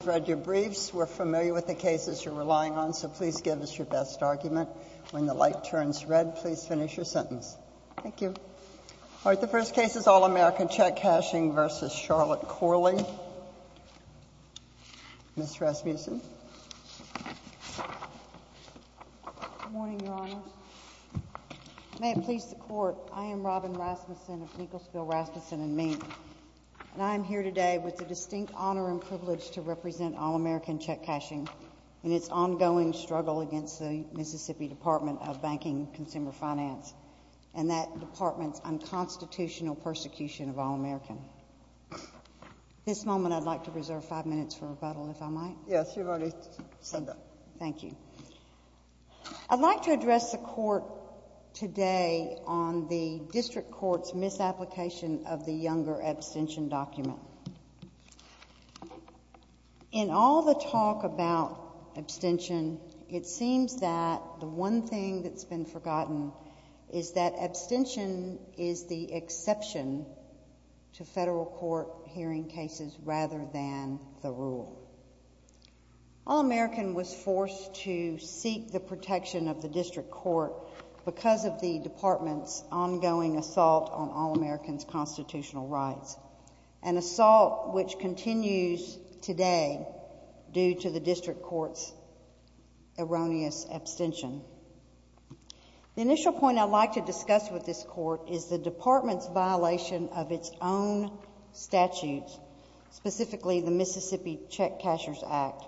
Ms. Rasmussen. Good morning, Your Honors. May it please the Court, I am Robin Rasmussen of Nicholsville, Rasmussen & Mead, and I am here today with the distinct honor and privilege to represent All-American Check Cashing in its ongoing struggle against the Mississippi Department of Banking and Consumer Finance and that department's unconstitutional persecution of All-American. At this moment, I would like to reserve five minutes for rebuttal, if I might. Yes, you are ready to stand up. Thank you. I would like to address the Court today on the District Court's misapplication of the Younger Abstention Document. In all the talk about abstention, it seems that the one thing that has been forgotten is that abstention is the exception to federal court hearing cases rather than the rule. All-American was forced to seek the protection of the District Court because of the department's ongoing assault on All-American's constitutional rights, an assault which continues today due to the District Court's erroneous abstention. The initial point I would like to discuss with this Court is the department's violation of its own statutes, specifically the Mississippi Check Cashers Act,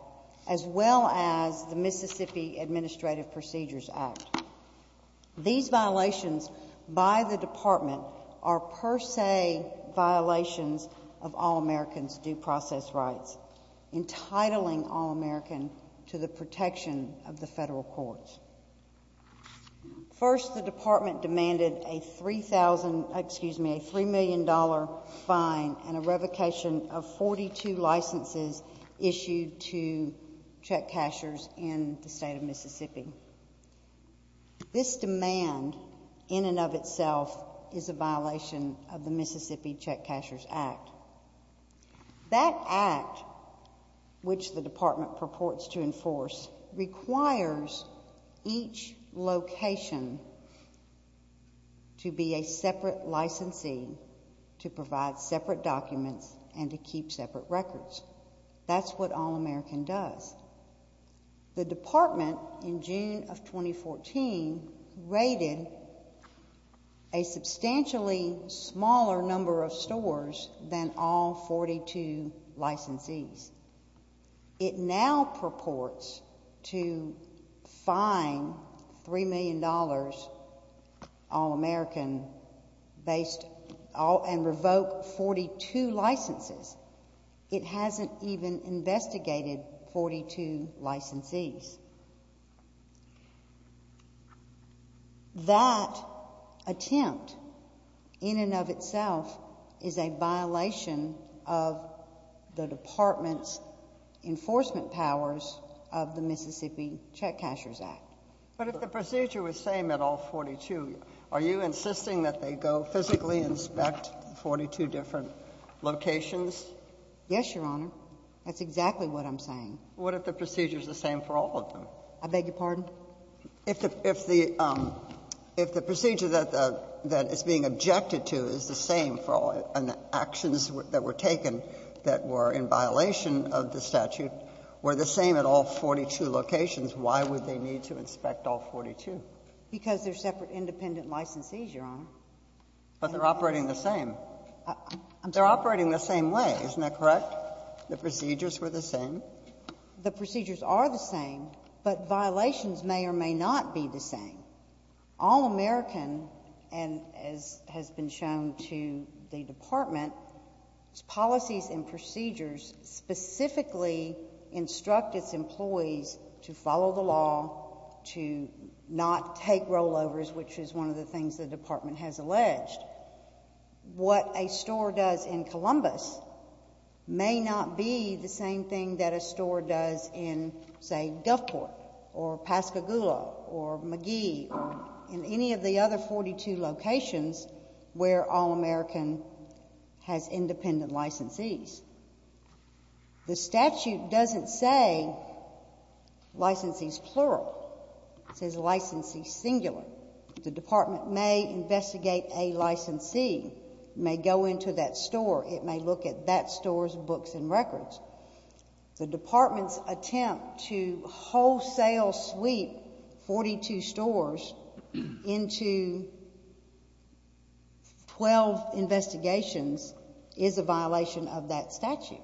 as well as the Mississippi Administrative Procedures Act. These violations by the department are per se violations of All-American's due process rights, entitling All-American to the protection of the federal courts. First, the department demanded a $3 million fine and a revocation of 42 licenses issued to check cashers in the state of Mississippi. This demand in and of itself is a violation of the Mississippi Check Cashers Act. That act, which the department purports to enforce, requires each location to be a separate licensee to provide separate documents and to keep separate records. That's what All-American does. The department, in June of 2014, raided a substantially smaller number of stores than all 42 licensees. It now purports to fine $3 million All-American, based off of the and revoke 42 licenses. It hasn't even investigated 42 licensees. That attempt, in and of itself, is a violation of the department's enforcement powers of the Mississippi Check Cashers Act. But if the procedure was the same at all 42, are you insisting that they go physically inspect 42 different locations? Yes, Your Honor. That's exactly what I'm saying. What if the procedure is the same for all of them? I beg your pardon? If the procedure that is being objected to is the same for all and the actions that were taken that were in violation of the statute were the same at all 42 locations, why would they need to inspect all 42? Because they're separate, independent licensees, Your Honor. But they're operating the same. They're operating the same way, isn't that correct? The procedures were the same? The procedures are the same, but violations may or may not be the same. All-American, and as has been shown to the department, its policies and procedures specifically instruct its employees to follow the law, to not take rollovers, which is one of the things the department has alleged. What a store does in Columbus may not be the same thing that a store does in, say, Duffport or Pascagoula or McGee or in any of the other 42 locations where All-American has independent licensees. The statute doesn't say licensees plural. It says licensees singular. The department may investigate a licensee, may go into that store, it may look at that store's books and records. The department's attempt to wholesale sweep 42 stores into 12 investigations is a violation of that statute.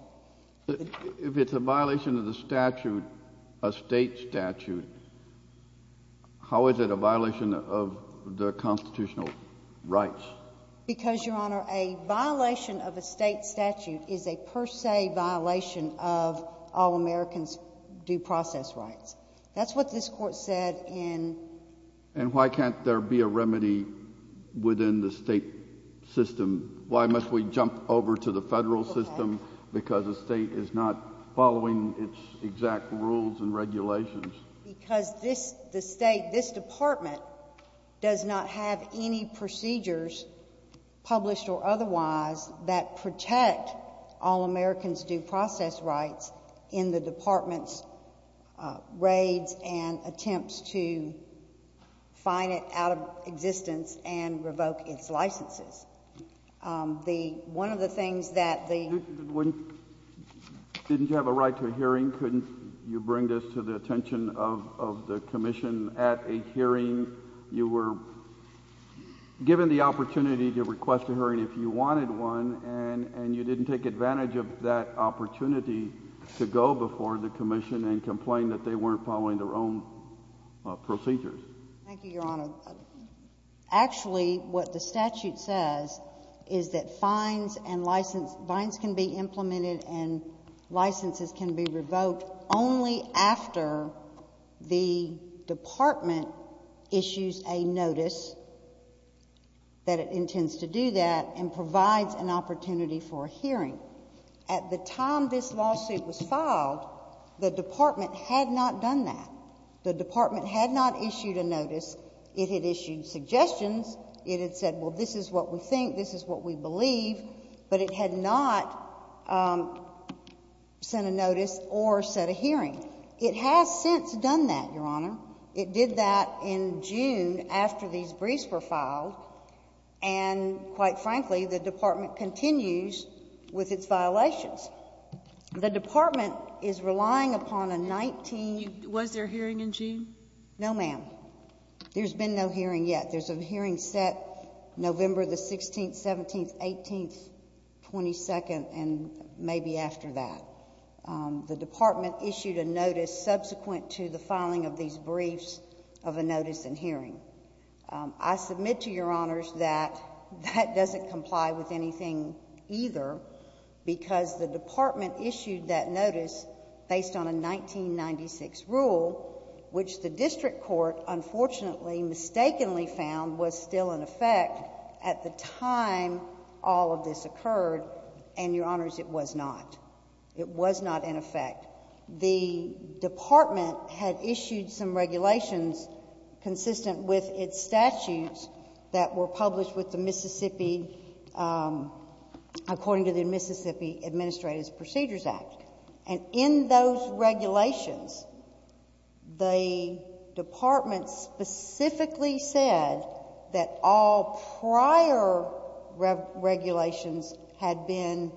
If it's a violation of the statute, a state statute, how is it a violation of the constitutional rights? Because, Your Honor, a violation of a state statute is a per se violation of All-American's due process rights. That's what this Court said in— And why can't there be a remedy within the state system? Why must we jump over to the federal system because the state is not following its exact rules and regulations? Because the state, this department, does not have any procedures, published or otherwise, that protect All-American's due process rights in the department's raids and attempts to find it out of existence and revoke its licenses. One of the things that the— Didn't you have a right to a hearing? Couldn't you bring this to the attention of the Commission at a hearing? You were given the opportunity to request a hearing if you wanted one, and you didn't take advantage of that opportunity to go before the Commission and complain that they weren't following their own procedures. Thank you, Your Honor. Actually, what the statute says is that fines and license—fines can be implemented and licenses can be revoked only after the department issues a notice that it intends to do that and provides an opportunity for a hearing. At the time this was not done that. The department had not issued a notice. It had issued suggestions. It had said, well, this is what we think, this is what we believe, but it had not sent a notice or set a hearing. It has since done that, Your Honor. It did that in June after these briefs were filed, and quite frankly, the department continues with its violations. The department is relying upon a 19— Was there a hearing in June? No, ma'am. There's been no hearing yet. There's a hearing set November the 16th, 17th, 18th, 22nd, and maybe after that. The department issued a notice subsequent to the filing of these briefs of a notice and hearing. I submit to Your Honors that that doesn't comply with the statute. The department issued that notice based on a 1996 rule, which the district court unfortunately mistakenly found was still in effect at the time all of this occurred, and Your Honors, it was not. It was not in effect. The department had issued some regulations consistent with its statutes that were published with the Mississippi—according to the Mississippi Administrative Procedures Act, and in those regulations, the department specifically said that all prior regulations had been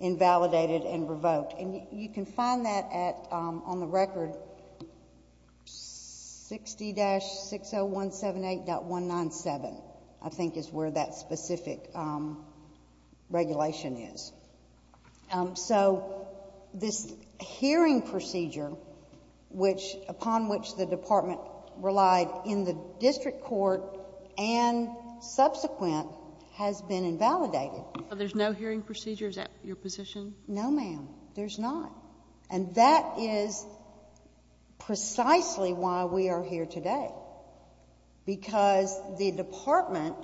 invalidated and revoked, and you can find that at, on the record, 60-60178.197, I think is where that specific regulation is. So, this hearing procedure, which, upon which the department relied in the district court and subsequent, has been invalidated. So there's no hearing procedure? Is that your position? No, ma'am. There's not, and that is precisely why we are here today, because the department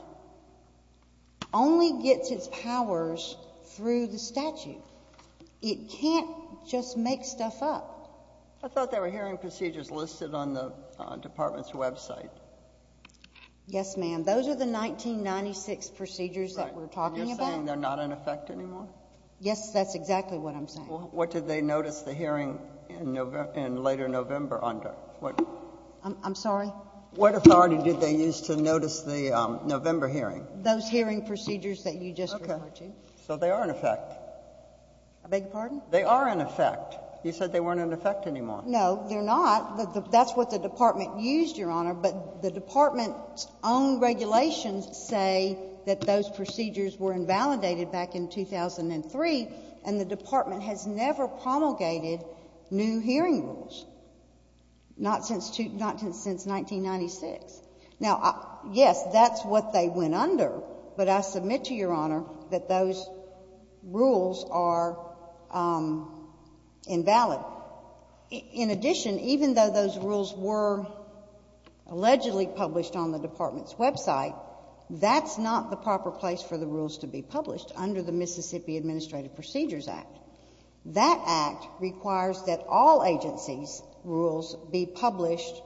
only gets its powers through the statute. It can't just make stuff up. I thought there were hearing procedures listed on the department's website. Yes, ma'am. Those are the 1996 procedures that we're talking about. Right, and you're saying they're not in effect anymore? Yes, that's exactly what I'm saying. What did they notice the hearing in later November under? I'm sorry? What authority did they use to notice the November hearing? Those hearing procedures that you just referred to. Okay. So they are in effect? I beg your pardon? They are in effect. You said they weren't in effect anymore. No, they're not. That's what the department used, Your Honor, but the department's own regulations say that those procedures were invalidated back in 2003, and the department has never promulgated new hearing rules, not since 1996. Now, yes, that's what they went under, but I submit to Your Honor that those rules are invalid. In addition, even though those rules were allegedly published on the department's website, that's not the proper place for the rules to be published under the Mississippi Administrative Procedures Act. That act requires that all agencies' rules be published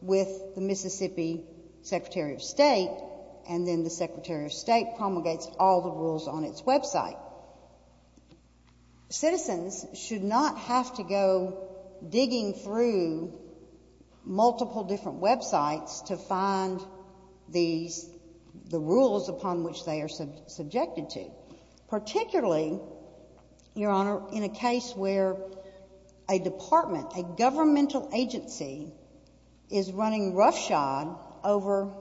with the Mississippi Secretary of State, and then the Secretary of State promulgates all the rules on its website. Citizens should not have to go digging through multiple different websites to find the rules upon which they are subjected to, particularly, Your Honor, in a case where a department, a governmental agency, is running roughshod over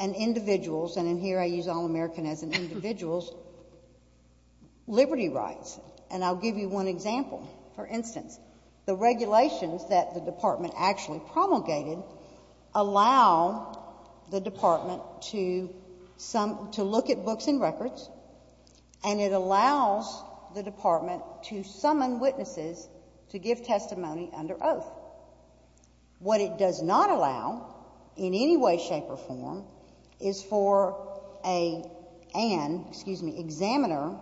an individual's, and here I use All American as an individual's, liberty rights. And I'll give you one example. For instance, the regulations that the department actually promulgated allow the department to look at books and records, and it allows the department to summon witnesses to give testimony under oath. What it does not allow, in any way, shape, or form, is for an examiner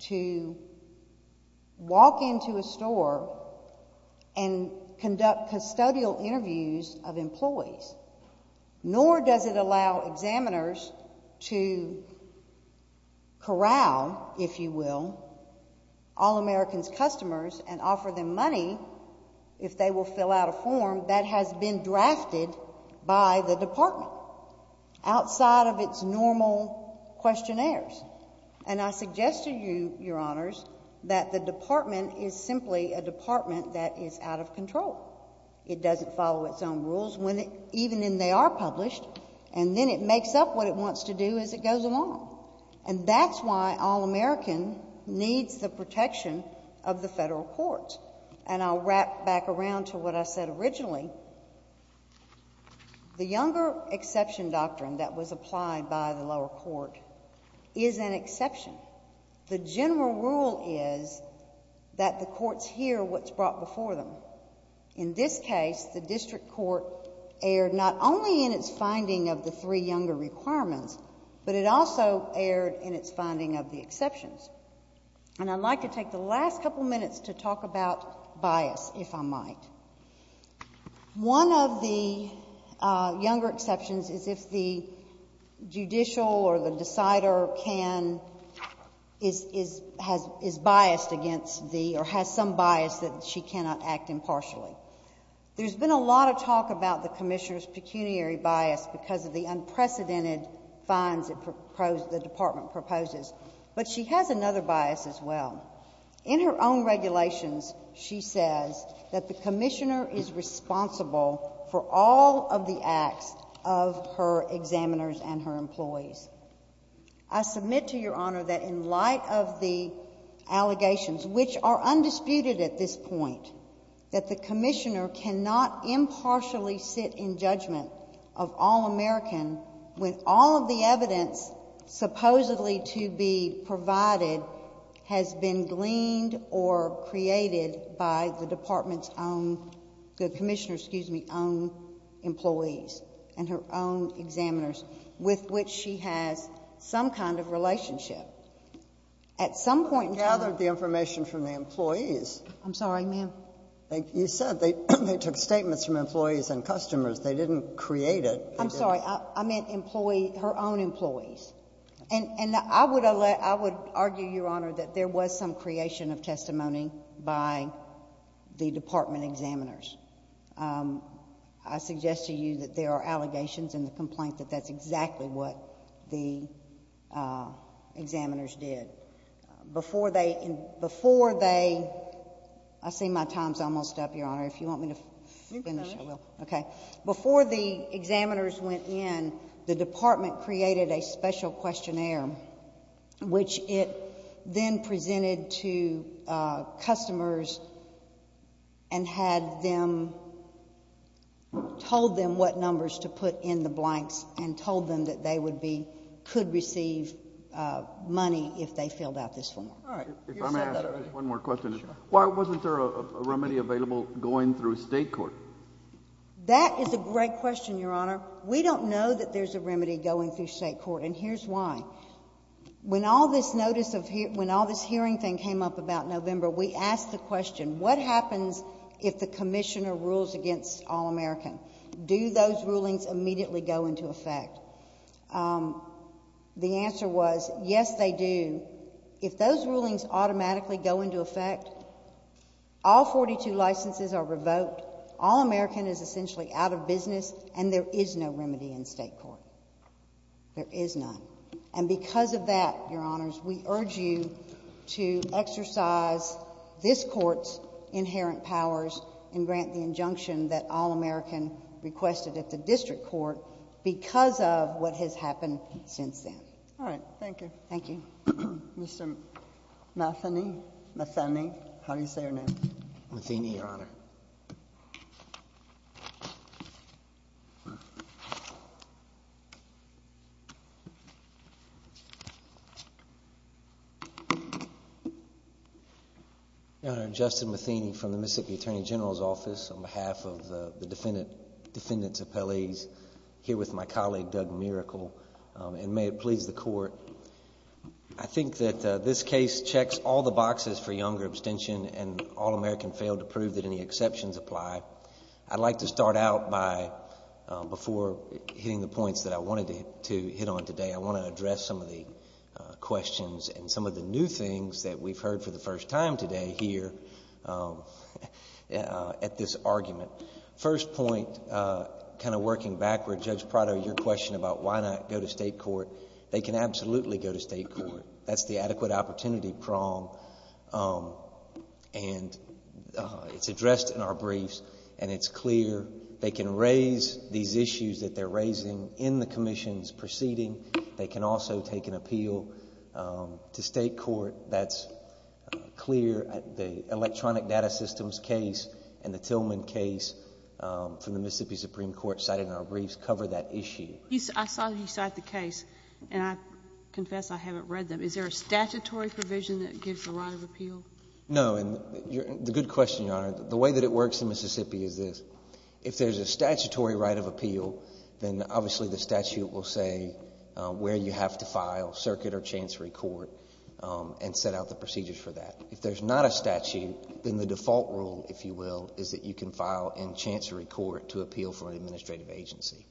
to walk into a store and ask to conduct custodial interviews of employees, nor does it allow examiners to corral, if you will, All American's customers and offer them money if they will fill out a form that has been drafted by the department outside of its normal questionnaires. And I suggest to you, Your Honors, that the department is simply a department that is out of control. It doesn't follow its own rules, even when they are published, and then it makes up what it wants to do as it goes along. And that's why All American needs the protection of the federal courts. And I'll wrap back around to what I said originally. The Younger Exception Doctrine that was applied by the lower court is an exception. The general rule is that the courts hear what's brought before them. In this case, the district court erred not only in its finding of the three Younger Requirements, but it also erred in its finding of the exceptions. And I'd like to take the last couple minutes to talk about bias, if I might. One of the reasons is the judicial or the decider can, is biased against the, or has some bias that she cannot act impartially. There's been a lot of talk about the commissioner's pecuniary bias because of the unprecedented fines the department proposes. But she has another bias as well. In her own regulations, she says that the commissioner is responsible for all of the acts of her examiners and her employees. I submit to Your Honor that in light of the allegations, which are undisputed at this point, that the commissioner cannot impartially sit in judgment of All American when all of the evidence supposedly to be provided has been gleaned or created by the department's own, the commissioner's, excuse me, own employees. And her own examiners with which she has some kind of relationship. At some point in time You gathered the information from the employees. I'm sorry, ma'am. You said they took statements from employees and customers. They didn't create it. I'm sorry. I meant her own employees. And I would argue, Your Honor, that there was some creation of testimony by the department examiners. I suggest to you, Your Honor, that there are allegations in the complaint that that's exactly what the examiners did. Before they, I see my time's almost up, Your Honor. If you want me to finish, I will. Before the examiners went in, the department created a special questionnaire, which it then presented to customers and had them, told them what they were going to do. And what numbers to put in the blanks, and told them that they would be, could receive money if they filled out this form. All right. If I may ask one more question. Sure. Why wasn't there a remedy available going through state court? That is a great question, Your Honor. We don't know that there's a remedy going through state court. And here's why. When all this notice of, when all this hearing thing came up about November, we asked the question, what happens if the commissioner rules against All-American? Do those rulings immediately go into effect? The answer was, yes they do. If those rulings automatically go into effect, all 42 licenses are revoked, All-American is essentially out of business, and there is no remedy in state court. There is none. And because of that, Your Honors, we urge you to exercise this court's inherent powers and grant the injunction that All-American requested at the district court, because of what has happened since then. All right. Thank you. Thank you. Mr. Matheny. How do you say your name? Matheny, Your Honor. I'm here in the Attorney General's office on behalf of the defendant's appellees, here with my colleague, Doug Miracle. And may it please the court, I think that this case checks all the boxes for younger abstention, and All-American failed to prove that any exceptions apply. I'd like to start out by, before hitting the points that I wanted to hit on today, I want to address some of the questions and some of the new things that we've heard for the first time today here at this argument. First point, kind of working backward, Judge Prado, your question about why not go to state court. They can absolutely go to state court. That's the adequate opportunity prong. And it's addressed in our briefs, and it's clear they can raise these issues that they're raising in the commission's proceeding. They can also take an appeal to state court. That's clear at the electronic data systems case and the Tillman case from the Mississippi Supreme Court cited in our briefs cover that issue. I saw that you cite the case, and I confess I haven't read them. Is there a statutory provision that gives the right of appeal? No. And the good question, Your Honor, the way that it works in Mississippi is this. If there's a statutory right of appeal, then obviously the statute will say where you have to file, circuit or chancery court, and set out the procedures for that. If there's not a statute, then the default rule, if you will, is that you can file in chancery court to appeal for an administrative agency.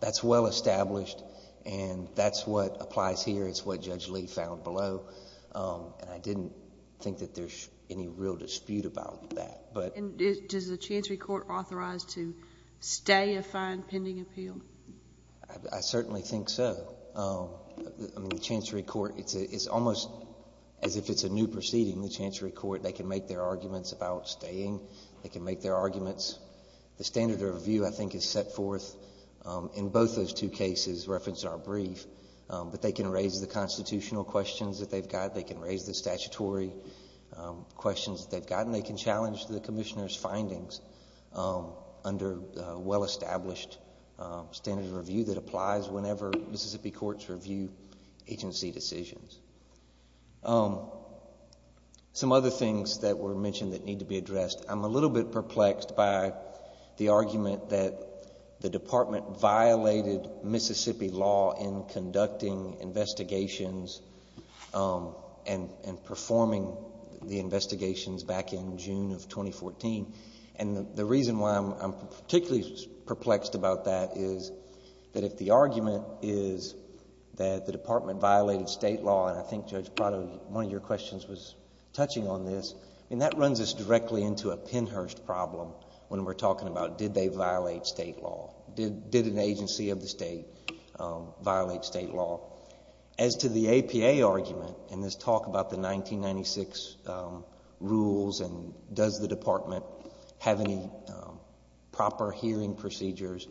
That's well established, and that's what applies here. It's what Judge Lee found below. And I didn't think that there's any real dispute about that. And does the chancery court authorize to stay a fine pending appeal? I certainly think so. The chancery court, it's almost as if it's a new proceeding. The chancery court, they can make their arguments about staying. They can make their arguments. The standard of review, I think, is set forth in both those two cases referenced in our brief. But they can raise the constitutional questions that they've got. They can raise the statutory questions that they've got. And they can challenge the commissioner's findings under well-established standard of review that applies whenever Mississippi courts review agency decisions. Some other things that were mentioned that need to be addressed. I'm a little bit perplexed by the argument that the department violated Mississippi law in conducting investigations and performing the investigations back in June of 2014. And the reason why I'm particularly perplexed about that is that if the argument is that the department violated state law, and I think Judge Prado, one of your questions was touching on this. I mean, that runs us into a pinhurst problem when we're talking about did they violate state law. Did an agency of the state violate state law? As to the APA argument in this talk about the 1996 rules and does the department have any proper hearing procedures,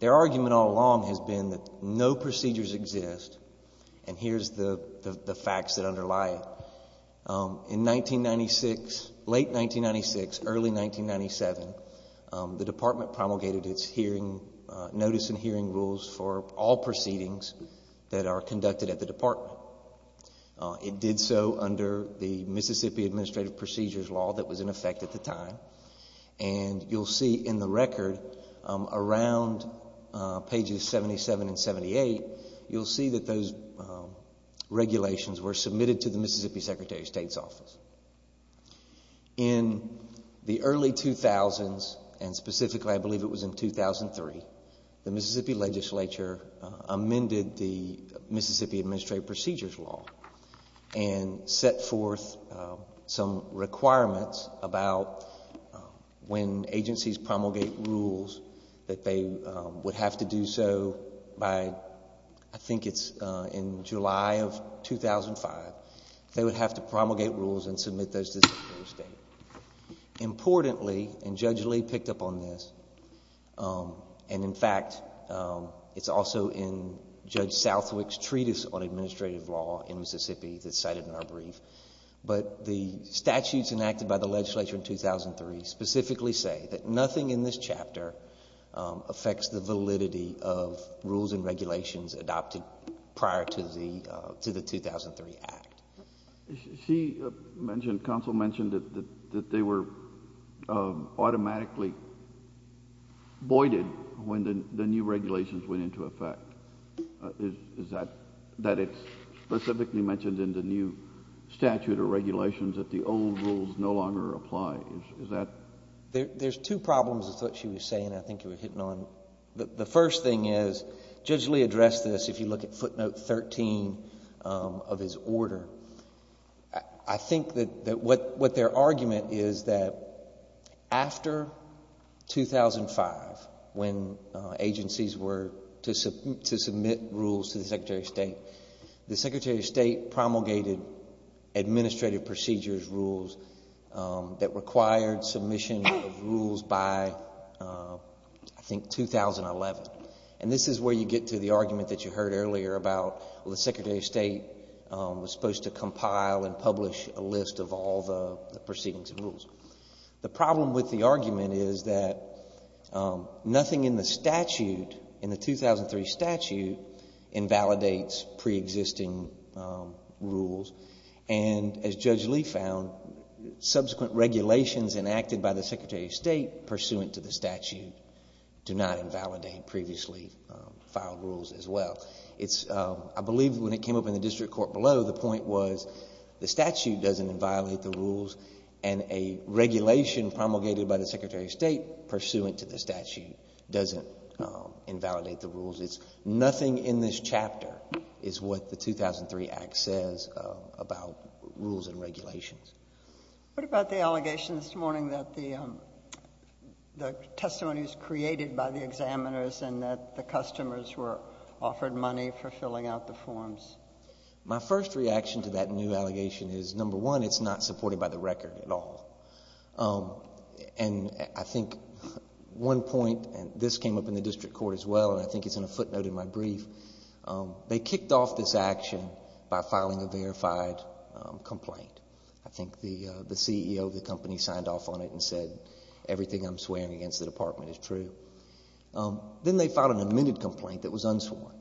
their argument all along has been that no procedures exist. And here's the facts that underlie it. In 1996, late 1996, early 1997, the department promulgated its hearing, notice and hearing rules for all proceedings that are conducted at the department. It did so under the Mississippi Administrative Procedures Law that was in effect at the time. And you'll see in the record around pages 77 and 78, you'll see that those regulations were submitted to the Mississippi Secretary of State's office. In the early 2000s, and specifically I believe it was in 2003, the Mississippi Legislature amended the Mississippi Administrative Procedures Law and set forth some requirements about when agencies promulgate rules that they would have to do so by, I think it's in July of 2005, they would have to promulgate rules and submit those to the Secretary of State. Importantly, and Judge Lee picked up on this, and in fact it's also in Judge Southwick's Treatise on Administrative Law in Mississippi that's cited in our brief, but the statutes enacted by the legislature in 2003 specifically say that nothing in this chapter affects the validity of rules and regulations adopted prior to the 2003 Act. She mentioned, counsel mentioned that they were automatically voided when the new regulations went into effect. Is that, that it's specifically mentioned in the new statute or regulations that the old rules no longer apply? Is that? There's two problems with what she was saying, I think you were hitting on. The first thing is Judge Lee addressed this if you look at footnote 13 of his order. I think that what their argument is that after 2005, when agencies were to submit rules to the Secretary of State, the Secretary of State promulgated administrative procedures rules that required submission of rules by, I think, 2011. And this is where you get to the argument that you heard earlier about the Secretary of State was supposed to compile and publish a list of all the proceedings and rules. The problem with the argument is that nothing in the statute, in the 2003 statute, invalidates pre-existing rules. And as Judge Lee found, subsequent regulations enacted by the Secretary of State pursuant to the statute do not invalidate previously filed rules as well. It's, I believe when it came up in the district court below, the point was the statute doesn't invalidate the rules and a regulation promulgated by the Secretary of State pursuant to the statute doesn't invalidate the rules. It's nothing in this chapter is what the 2003 Act says about rules and regulations. What about the allegation this morning that the testimony was created by the examiners and that the customers were offered money for filling out the forms? My first reaction to that new allegation is, number one, it's not supported by the record at all. And I think one point, and this came up in the district court as well and I think it's in a footnote in my brief, they kicked off this action by filing a verified complaint. I think the CEO of the company signed off on it and said, everything I'm swearing against the department is true. Then they filed an amended complaint that was unsworn.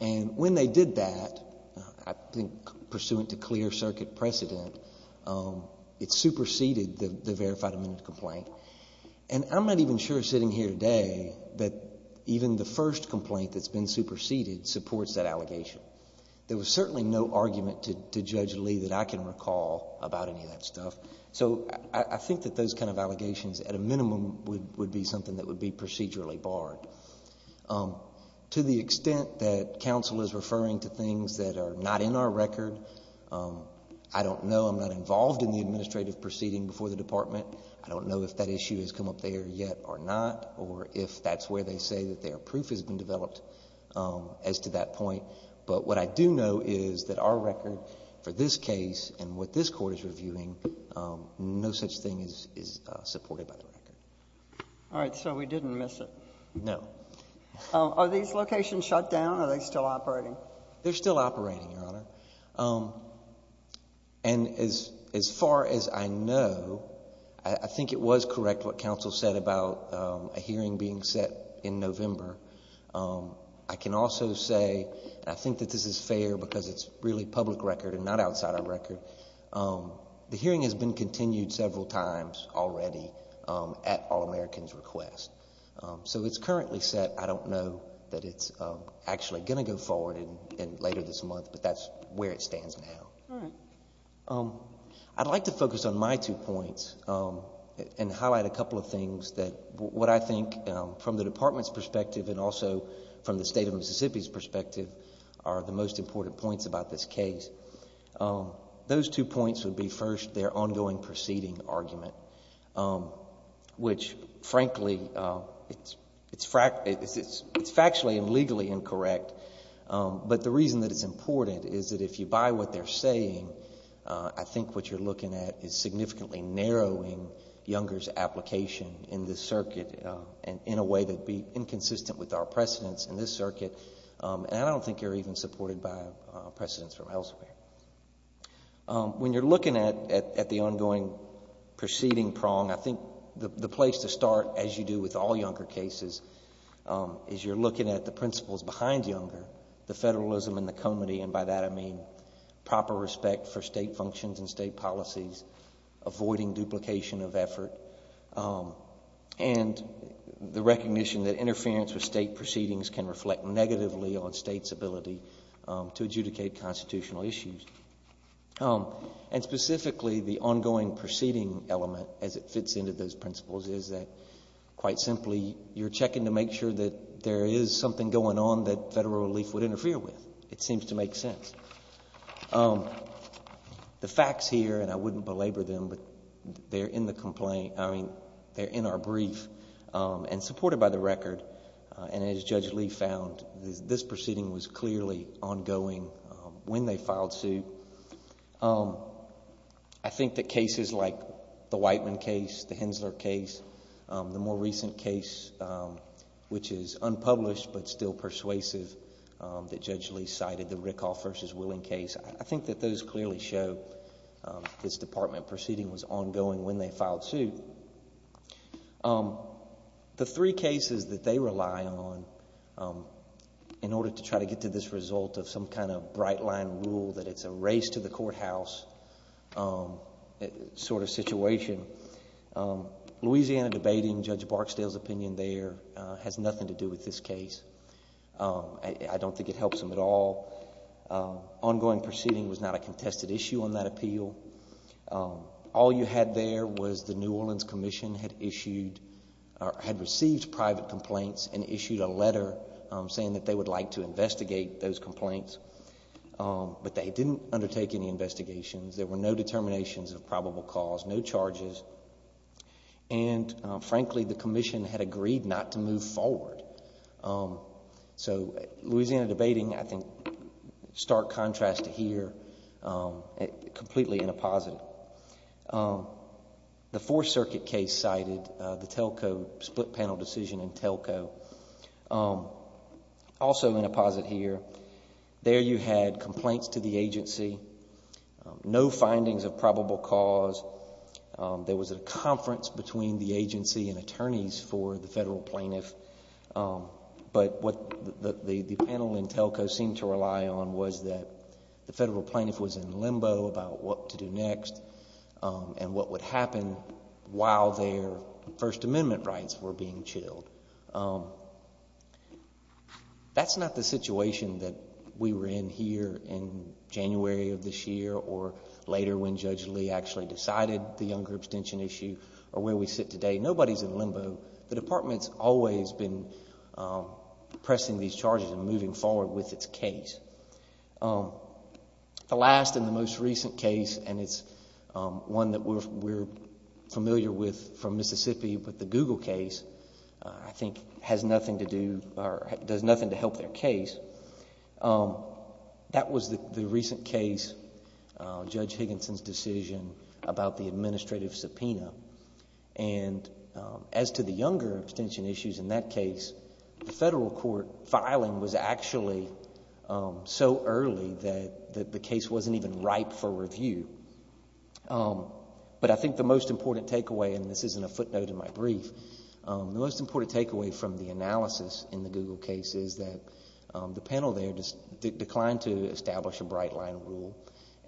And when they did that, I think pursuant to clear circuit precedent, it superseded the verified amended complaint. And I'm not even sure sitting here today that even the first complaint that's been superseded supports that allegation. There was certainly no argument to Judge Lee that I can recall about any of that stuff. So I think that those kind of allegations at a minimum would be something that would be procedurally barred. To the extent that counsel is referring to things that are not in our record, I don't know. I'm not involved in the administrative proceeding before the department. I don't know if that issue has come up there yet or not or if that's where they say that their proof has been developed as to that point. But what I do know is that our record for this case and what this court is reviewing, no such thing is supported by the record. All right, so we didn't miss it. No. Are these locations shut down? Are they still operating? They're still operating, Your Honor. And as far as I know, I think it was correct what counsel said about a hearing being set in November. I can also say, and I think that this is fair because it's really public record and not outside our record, the hearing has been continued several times already at All-American's request. So it's currently set. I don't know that it's actually going to go forward later this month, but that's where it stands now. All right. I'd like to focus on my two points and highlight a couple of things that what I think from the department's perspective and also from the State of Mississippi's perspective are the most important points about this case. Those two points would be, first, their ongoing proceeding argument, which frankly, it's factually and legally incorrect. But the reason that it's important is that if you buy what they're saying, I think what you're looking at is significantly narrowing Younger's application in this circuit in a way that would be inconsistent with our precedents in this circuit. And I don't think you're even supported by precedents from elsewhere. When you're looking at the ongoing proceeding prong, I think the place to start, as you do with all Younger cases, is you're looking at the principles behind Younger, the federalism and the comity, and by that I mean proper respect for State functions and State policies, avoiding duplication of effort, and the recognition that interference with State proceedings can reflect negatively on State's ability to adjudicate constitutional issues. And specifically, the ongoing proceeding element, as it fits into those principles, is that quite simply, you're checking to make sure that there is something going on that Federal relief would interfere with. It seems to make sense. The facts here, and I wouldn't belabor them, but they're in the complaint, I mean, they're in our brief, and supported by the record, and as Judge Lee found, this proceeding was clearly ongoing when they filed suit. I think that cases like the Whiteman case, the Hensler case, the more recent case, which is unpublished but still persuasive, that Judge Lee cited, the Rickoff versus Willing case, I think that those clearly show this Department proceeding was ongoing when they filed suit. The three cases that they rely on in order to try to get to this result of some kind of bright-line rule that it's a race to the courthouse sort of situation, Louisiana debating, and Judge Barksdale's opinion there has nothing to do with this case. I don't think it helps them at all. Ongoing proceeding was not a contested issue on that appeal. All you had there was the New Orleans Commission had issued or had received private complaints and issued a letter saying that they would like to investigate those complaints, but they didn't undertake any agreed not to move forward. So Louisiana debating, I think, stark contrast to here, completely in a positive. The Fourth Circuit case cited the Telco split panel decision in Telco, also in a positive here. There you had complaints to the agency, no findings of probable cause. There was a complaint to the agency and attorneys for the federal plaintiff, but what the panel in Telco seemed to rely on was that the federal plaintiff was in limbo about what to do next and what would happen while their First Amendment rights were being chilled. That's not the situation that we were in here in January of this year or later when Judge Higginson said, nobody's in limbo. The Department's always been pressing these charges and moving forward with its case. The last and the most recent case, and it's one that we're familiar with from Mississippi, but the Google case, I think, does nothing to help their case. That was the recent case, Judge Higginson's decision about the administrative subpoena. And as to the younger abstention issues in that case, the federal court filing was actually so early that the case wasn't even ripe for review. But I think the most important takeaway, and this isn't a footnote in my brief, the most important takeaway from the analysis in the Google case is that the panel there declined to establish a bright line rule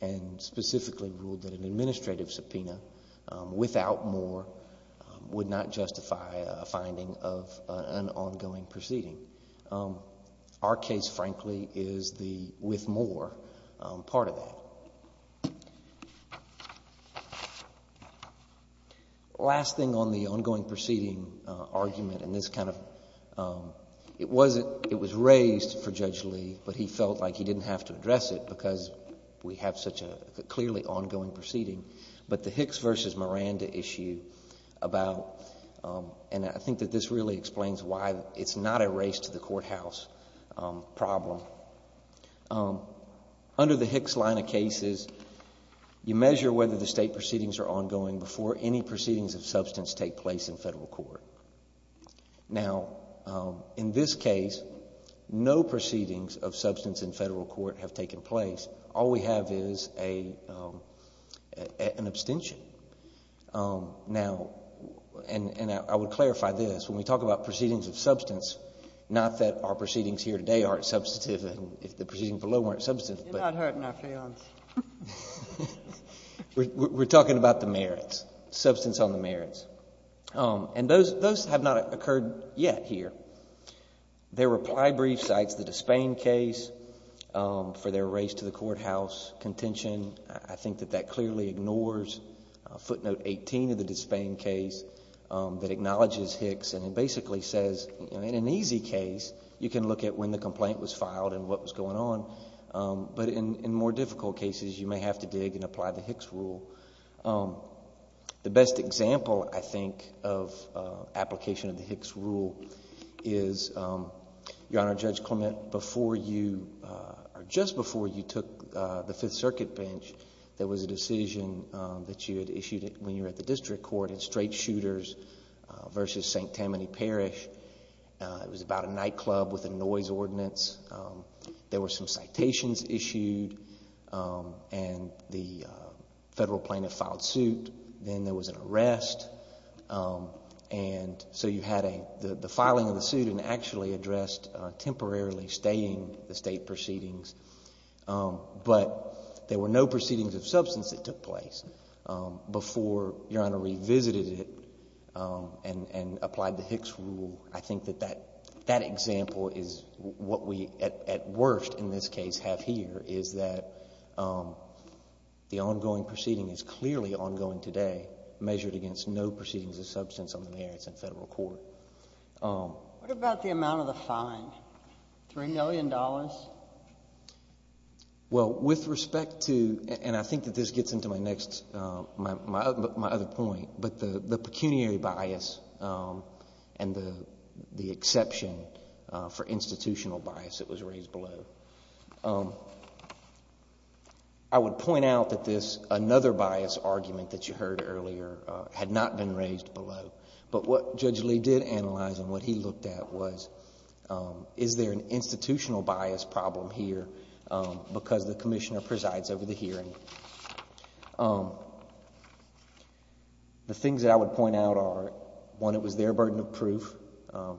and specifically ruled that an administrative subpoena without more would not justify a finding of an ongoing proceeding. Our case, frankly, is the with more part of that. Last thing on the ongoing proceeding argument and this kind of, it wasn't, it was raised for Judge Lee, but he felt like he didn't have to address it because we have such a clearly ongoing proceeding. But the Hicks versus Miranda issue about, and I think that this really explains why it's not a race to the courthouse problem. Under the Hicks line of cases, you measure whether the state proceedings are ongoing before any proceedings of substance take place in federal court. Now, in this case, no proceedings of substance in federal court have taken place. All we have is an abstention. Now, and I would clarify this, when we talk about proceedings of substance, not that our proceedings here today aren't substantive and if the proceedings below weren't substantive. You're not hurting our feelings. We're talking about the merits, substance on the merits. And those have not occurred yet here. Their reply brief cites the Despain case for their race to the courthouse contention. I think that that clearly ignores footnote 18 of the Despain case that acknowledges Hicks and it basically says, in an easy case, you can look at when the cases, you may have to dig and apply the Hicks rule. The best example, I think, of application of the Hicks rule is, Your Honor, Judge Clement, before you, or just before you took the Fifth Circuit bench, there was a decision that you had issued when you were at the district court in straight shooters versus St. Tammany Parish. It was about a nightclub with a noise ordinance. There were some citations issued and the Federal plaintiff filed suit. Then there was an arrest. And so you had the filing of the suit and actually addressed temporarily staying the State proceedings. But there were no proceedings of substance that took place before Your Honor revisited it and applied the Hicks rule. I think that that example is what we at worst in this case have here is that the ongoing proceeding is clearly ongoing today, measured against no proceedings of substance on the merits in Federal court. What about the amount of the fine, $3 million? Well, with respect to, and I think that this gets into my next, my other point, but the pecuniary bias and the exception for institutional bias that was raised below. I would point out that this, another bias argument that you heard earlier, had not been raised below. But what Judge Lee did analyze and what he looked at was, is there an institutional bias problem here because the Commissioner presides over the hearing? The things that I would point out are, one, it was their burden of proof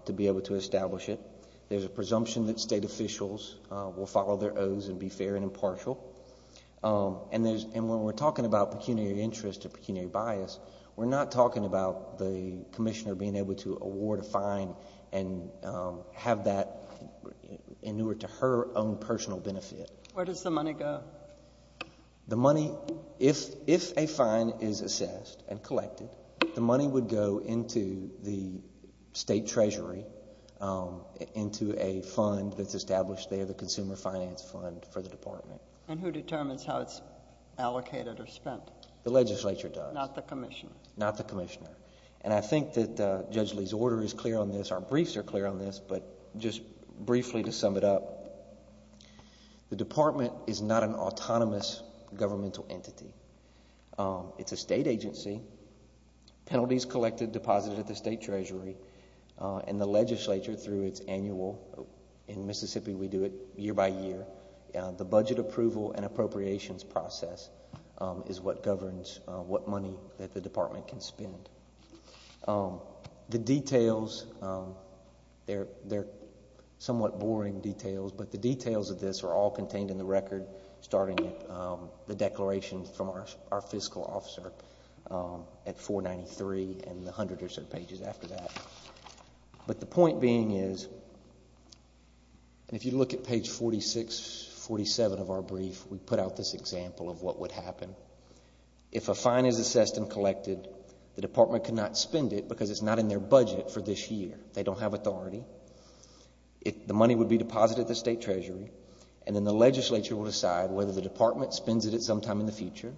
to be able to establish it. There's a presumption that State officials will follow their oaths and be fair and impartial. And when we're talking about pecuniary interest or pecuniary bias, we're not talking about the Commissioner being able to award a fine and have that in order to her own personal benefit. Where does the money go? The money, if a fine is assessed and collected, the money would go into the State Treasury, into a fund that's established there, the Consumer Finance Fund for the Department. And who determines how it's allocated or spent? The legislature does. Not the Commissioner? Not the Commissioner. And I think that Judge Lee's order is clear on this, our briefs are clear on this, but just briefly to sum it up, the Department is not an autonomous governmental entity. It's a State agency. Penalties collected, deposited at the State Treasury and the legislature through its annual, in Mississippi we do it year by year, the budget approval and appropriations process is what governs what money that the Department can spend. The details, they're somewhat boring details, but the details of this are all contained in the record starting at the declaration from our fiscal officer at 493 and the 100 or so pages after that. But the point being is, and if you look at page 46, 47 of our brief, we put out this example of what would happen. If a fine is assessed and collected, the Department cannot spend it because it's not in their budget for this year. They don't have authority. The money would be deposited at the State Treasury and then the legislature would decide whether the Department spends it at some time in the future,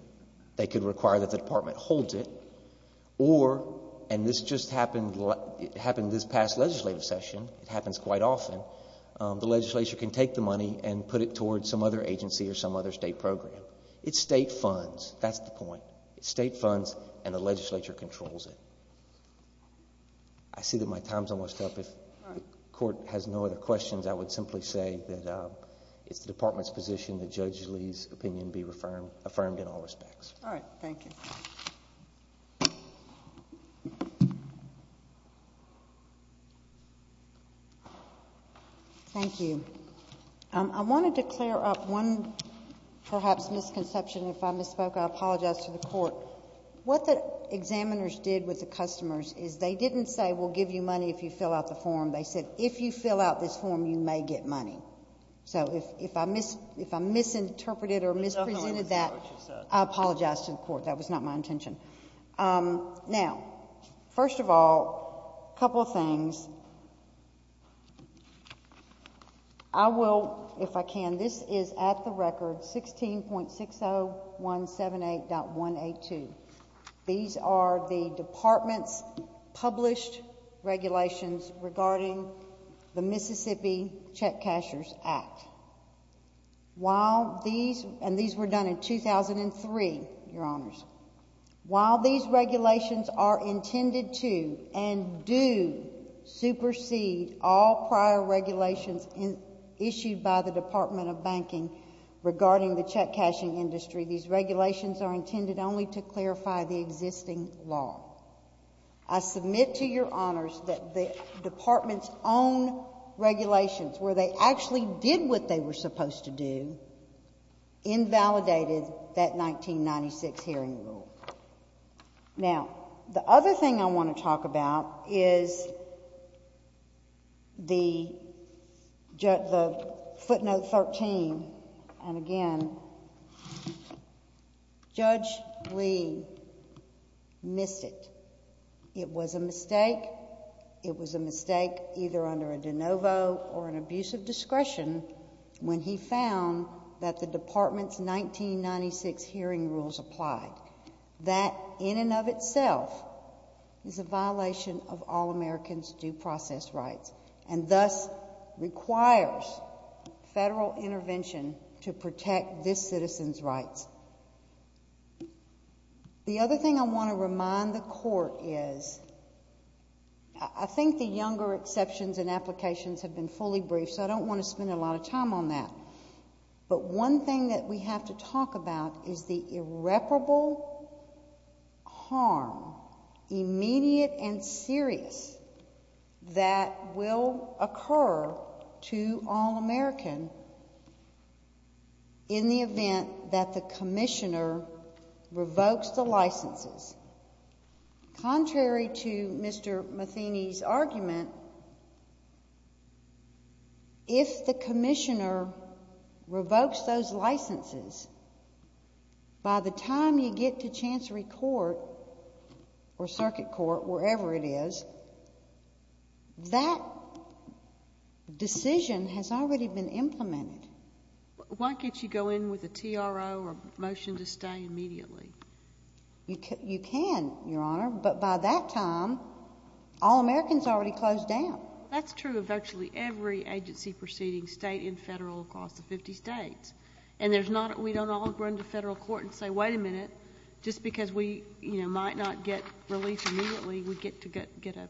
they could require that the Department holds it, or, and this just happened, it happened this past legislative session, it happens quite often, the legislature can take the money and put it towards some other State program. It's State funds, that's the point. It's State funds and the legislature controls it. I see that my time is almost up. If the Court has no other questions, I would simply say that it's the Department's position that Judge Lee's opinion be affirmed in all respects. All right. Thank you. Thank you. I wanted to clear up one, perhaps, misconception. If I misspoke, I apologize to the Court. What the examiners did with the customers is they didn't say, we'll give you money if you fill out the form. They said, if you fill out this form, you may get money. So, if I misinterpreted or misrepresented that, I apologize to the Court. That was not my intention. Now, first of all, a couple of things. I will, if I can, this is at the record, 16.60178.182. These are the Department's published regulations regarding the Mississippi Check Cashers Act. While these, and these were done in 2003, Your Honors, while these regulations are intended to and do supersede all prior regulations issued by the Department of Banking regarding the check cashing industry, these regulations are intended only to clarify the existing law. I submit to Your Honors that the Department's own regulations, where they actually did what they were supposed to do, invalidated that 1996 hearing rule. Now, the other thing I want to talk about is the footnote 13. And again, Judge Lee missed it. It was a mistake. It was a mistake either under a de novo or an abuse of discretion when he found that the Department's 1996 hearing rules applied. That, in and of itself, is a violation of all Americans' due process rights and thus requires federal intervention to protect this citizen's rights. The other thing I want to remind the Court is, I think the younger exceptions and applications have been fully briefed, so I don't want to spend a lot of time on that. But one thing that we have to talk about is the irreparable harm, immediate and serious, that will occur to all Americans in the event that the Commissioner revokes the licenses. Contrary to Mr. Matheny's argument, if the Commissioner revokes those licenses, by the time you get to Chancery Court or Circuit Court, wherever it is, that decision has already been implemented. Why can't you go in with a TRO or a motion to stay immediately? You can, Your Honor, but by that time, all Americans already closed down. That's true of virtually every agency proceeding state and federal across the 50 states. And we don't all run to federal court and say, wait a minute, just because we might not get relief immediately, we get to get an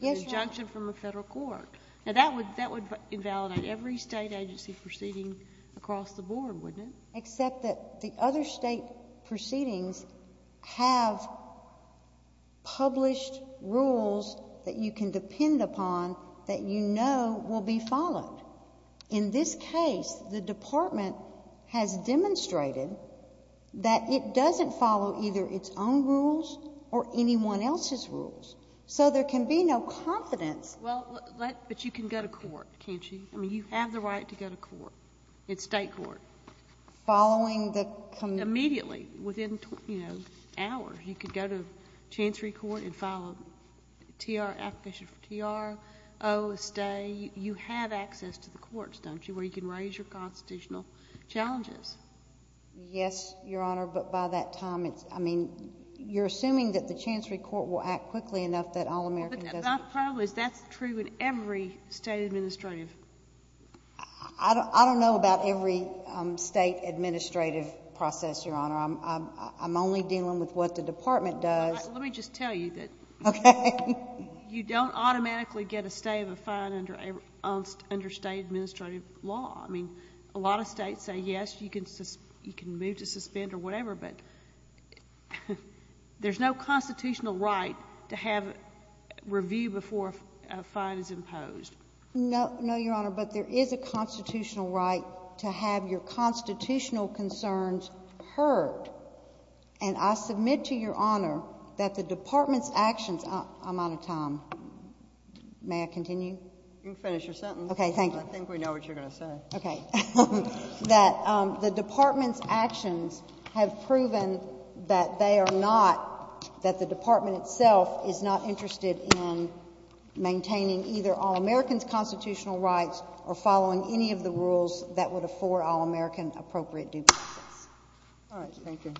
injunction from a federal court. Yes, Your Honor. Now, that would invalidate every state agency proceeding across the board, wouldn't it? Except that the other state proceedings have published rules that you can depend upon that you know will be followed. In this case, the Department has demonstrated that it doesn't follow either its own rules or anyone else's rules. So there can be no confidence. Well, but you can go to court, can't you? I mean, you have the right to go to court. It's state court. Following the... Immediately, within, you know, hours. You could go to Chancery Court and file a TR application for TRO, a stay. You have access to the courts, don't you, where you can raise your constitutional challenges. Yes, Your Honor, but by that time, it's... I mean, you're assuming that the Chancery Court will act quickly enough that all Americans... But my problem is that's true in every state administrative... I don't know about every state administrative process, Your Honor. I'm only dealing with what the Department does. Let me just tell you that... Okay. You don't automatically get a stay of a fine under state administrative law. I mean, a lot of states say, yes, you can move to suspend or whatever, but there's no constitutional right to have review before a fine is imposed. No, Your Honor, but there is a constitutional right to have your constitutional concerns heard. And I submit to Your Honor that the Department's actions... I'm out of time. May I continue? You can finish your sentence. Okay. Thank you. I think we know what you're going to say. Okay. The Department itself is not interested in maintaining either all Americans' constitutional rights or following any of the rules that would afford all American appropriate due process. All right. Thank you.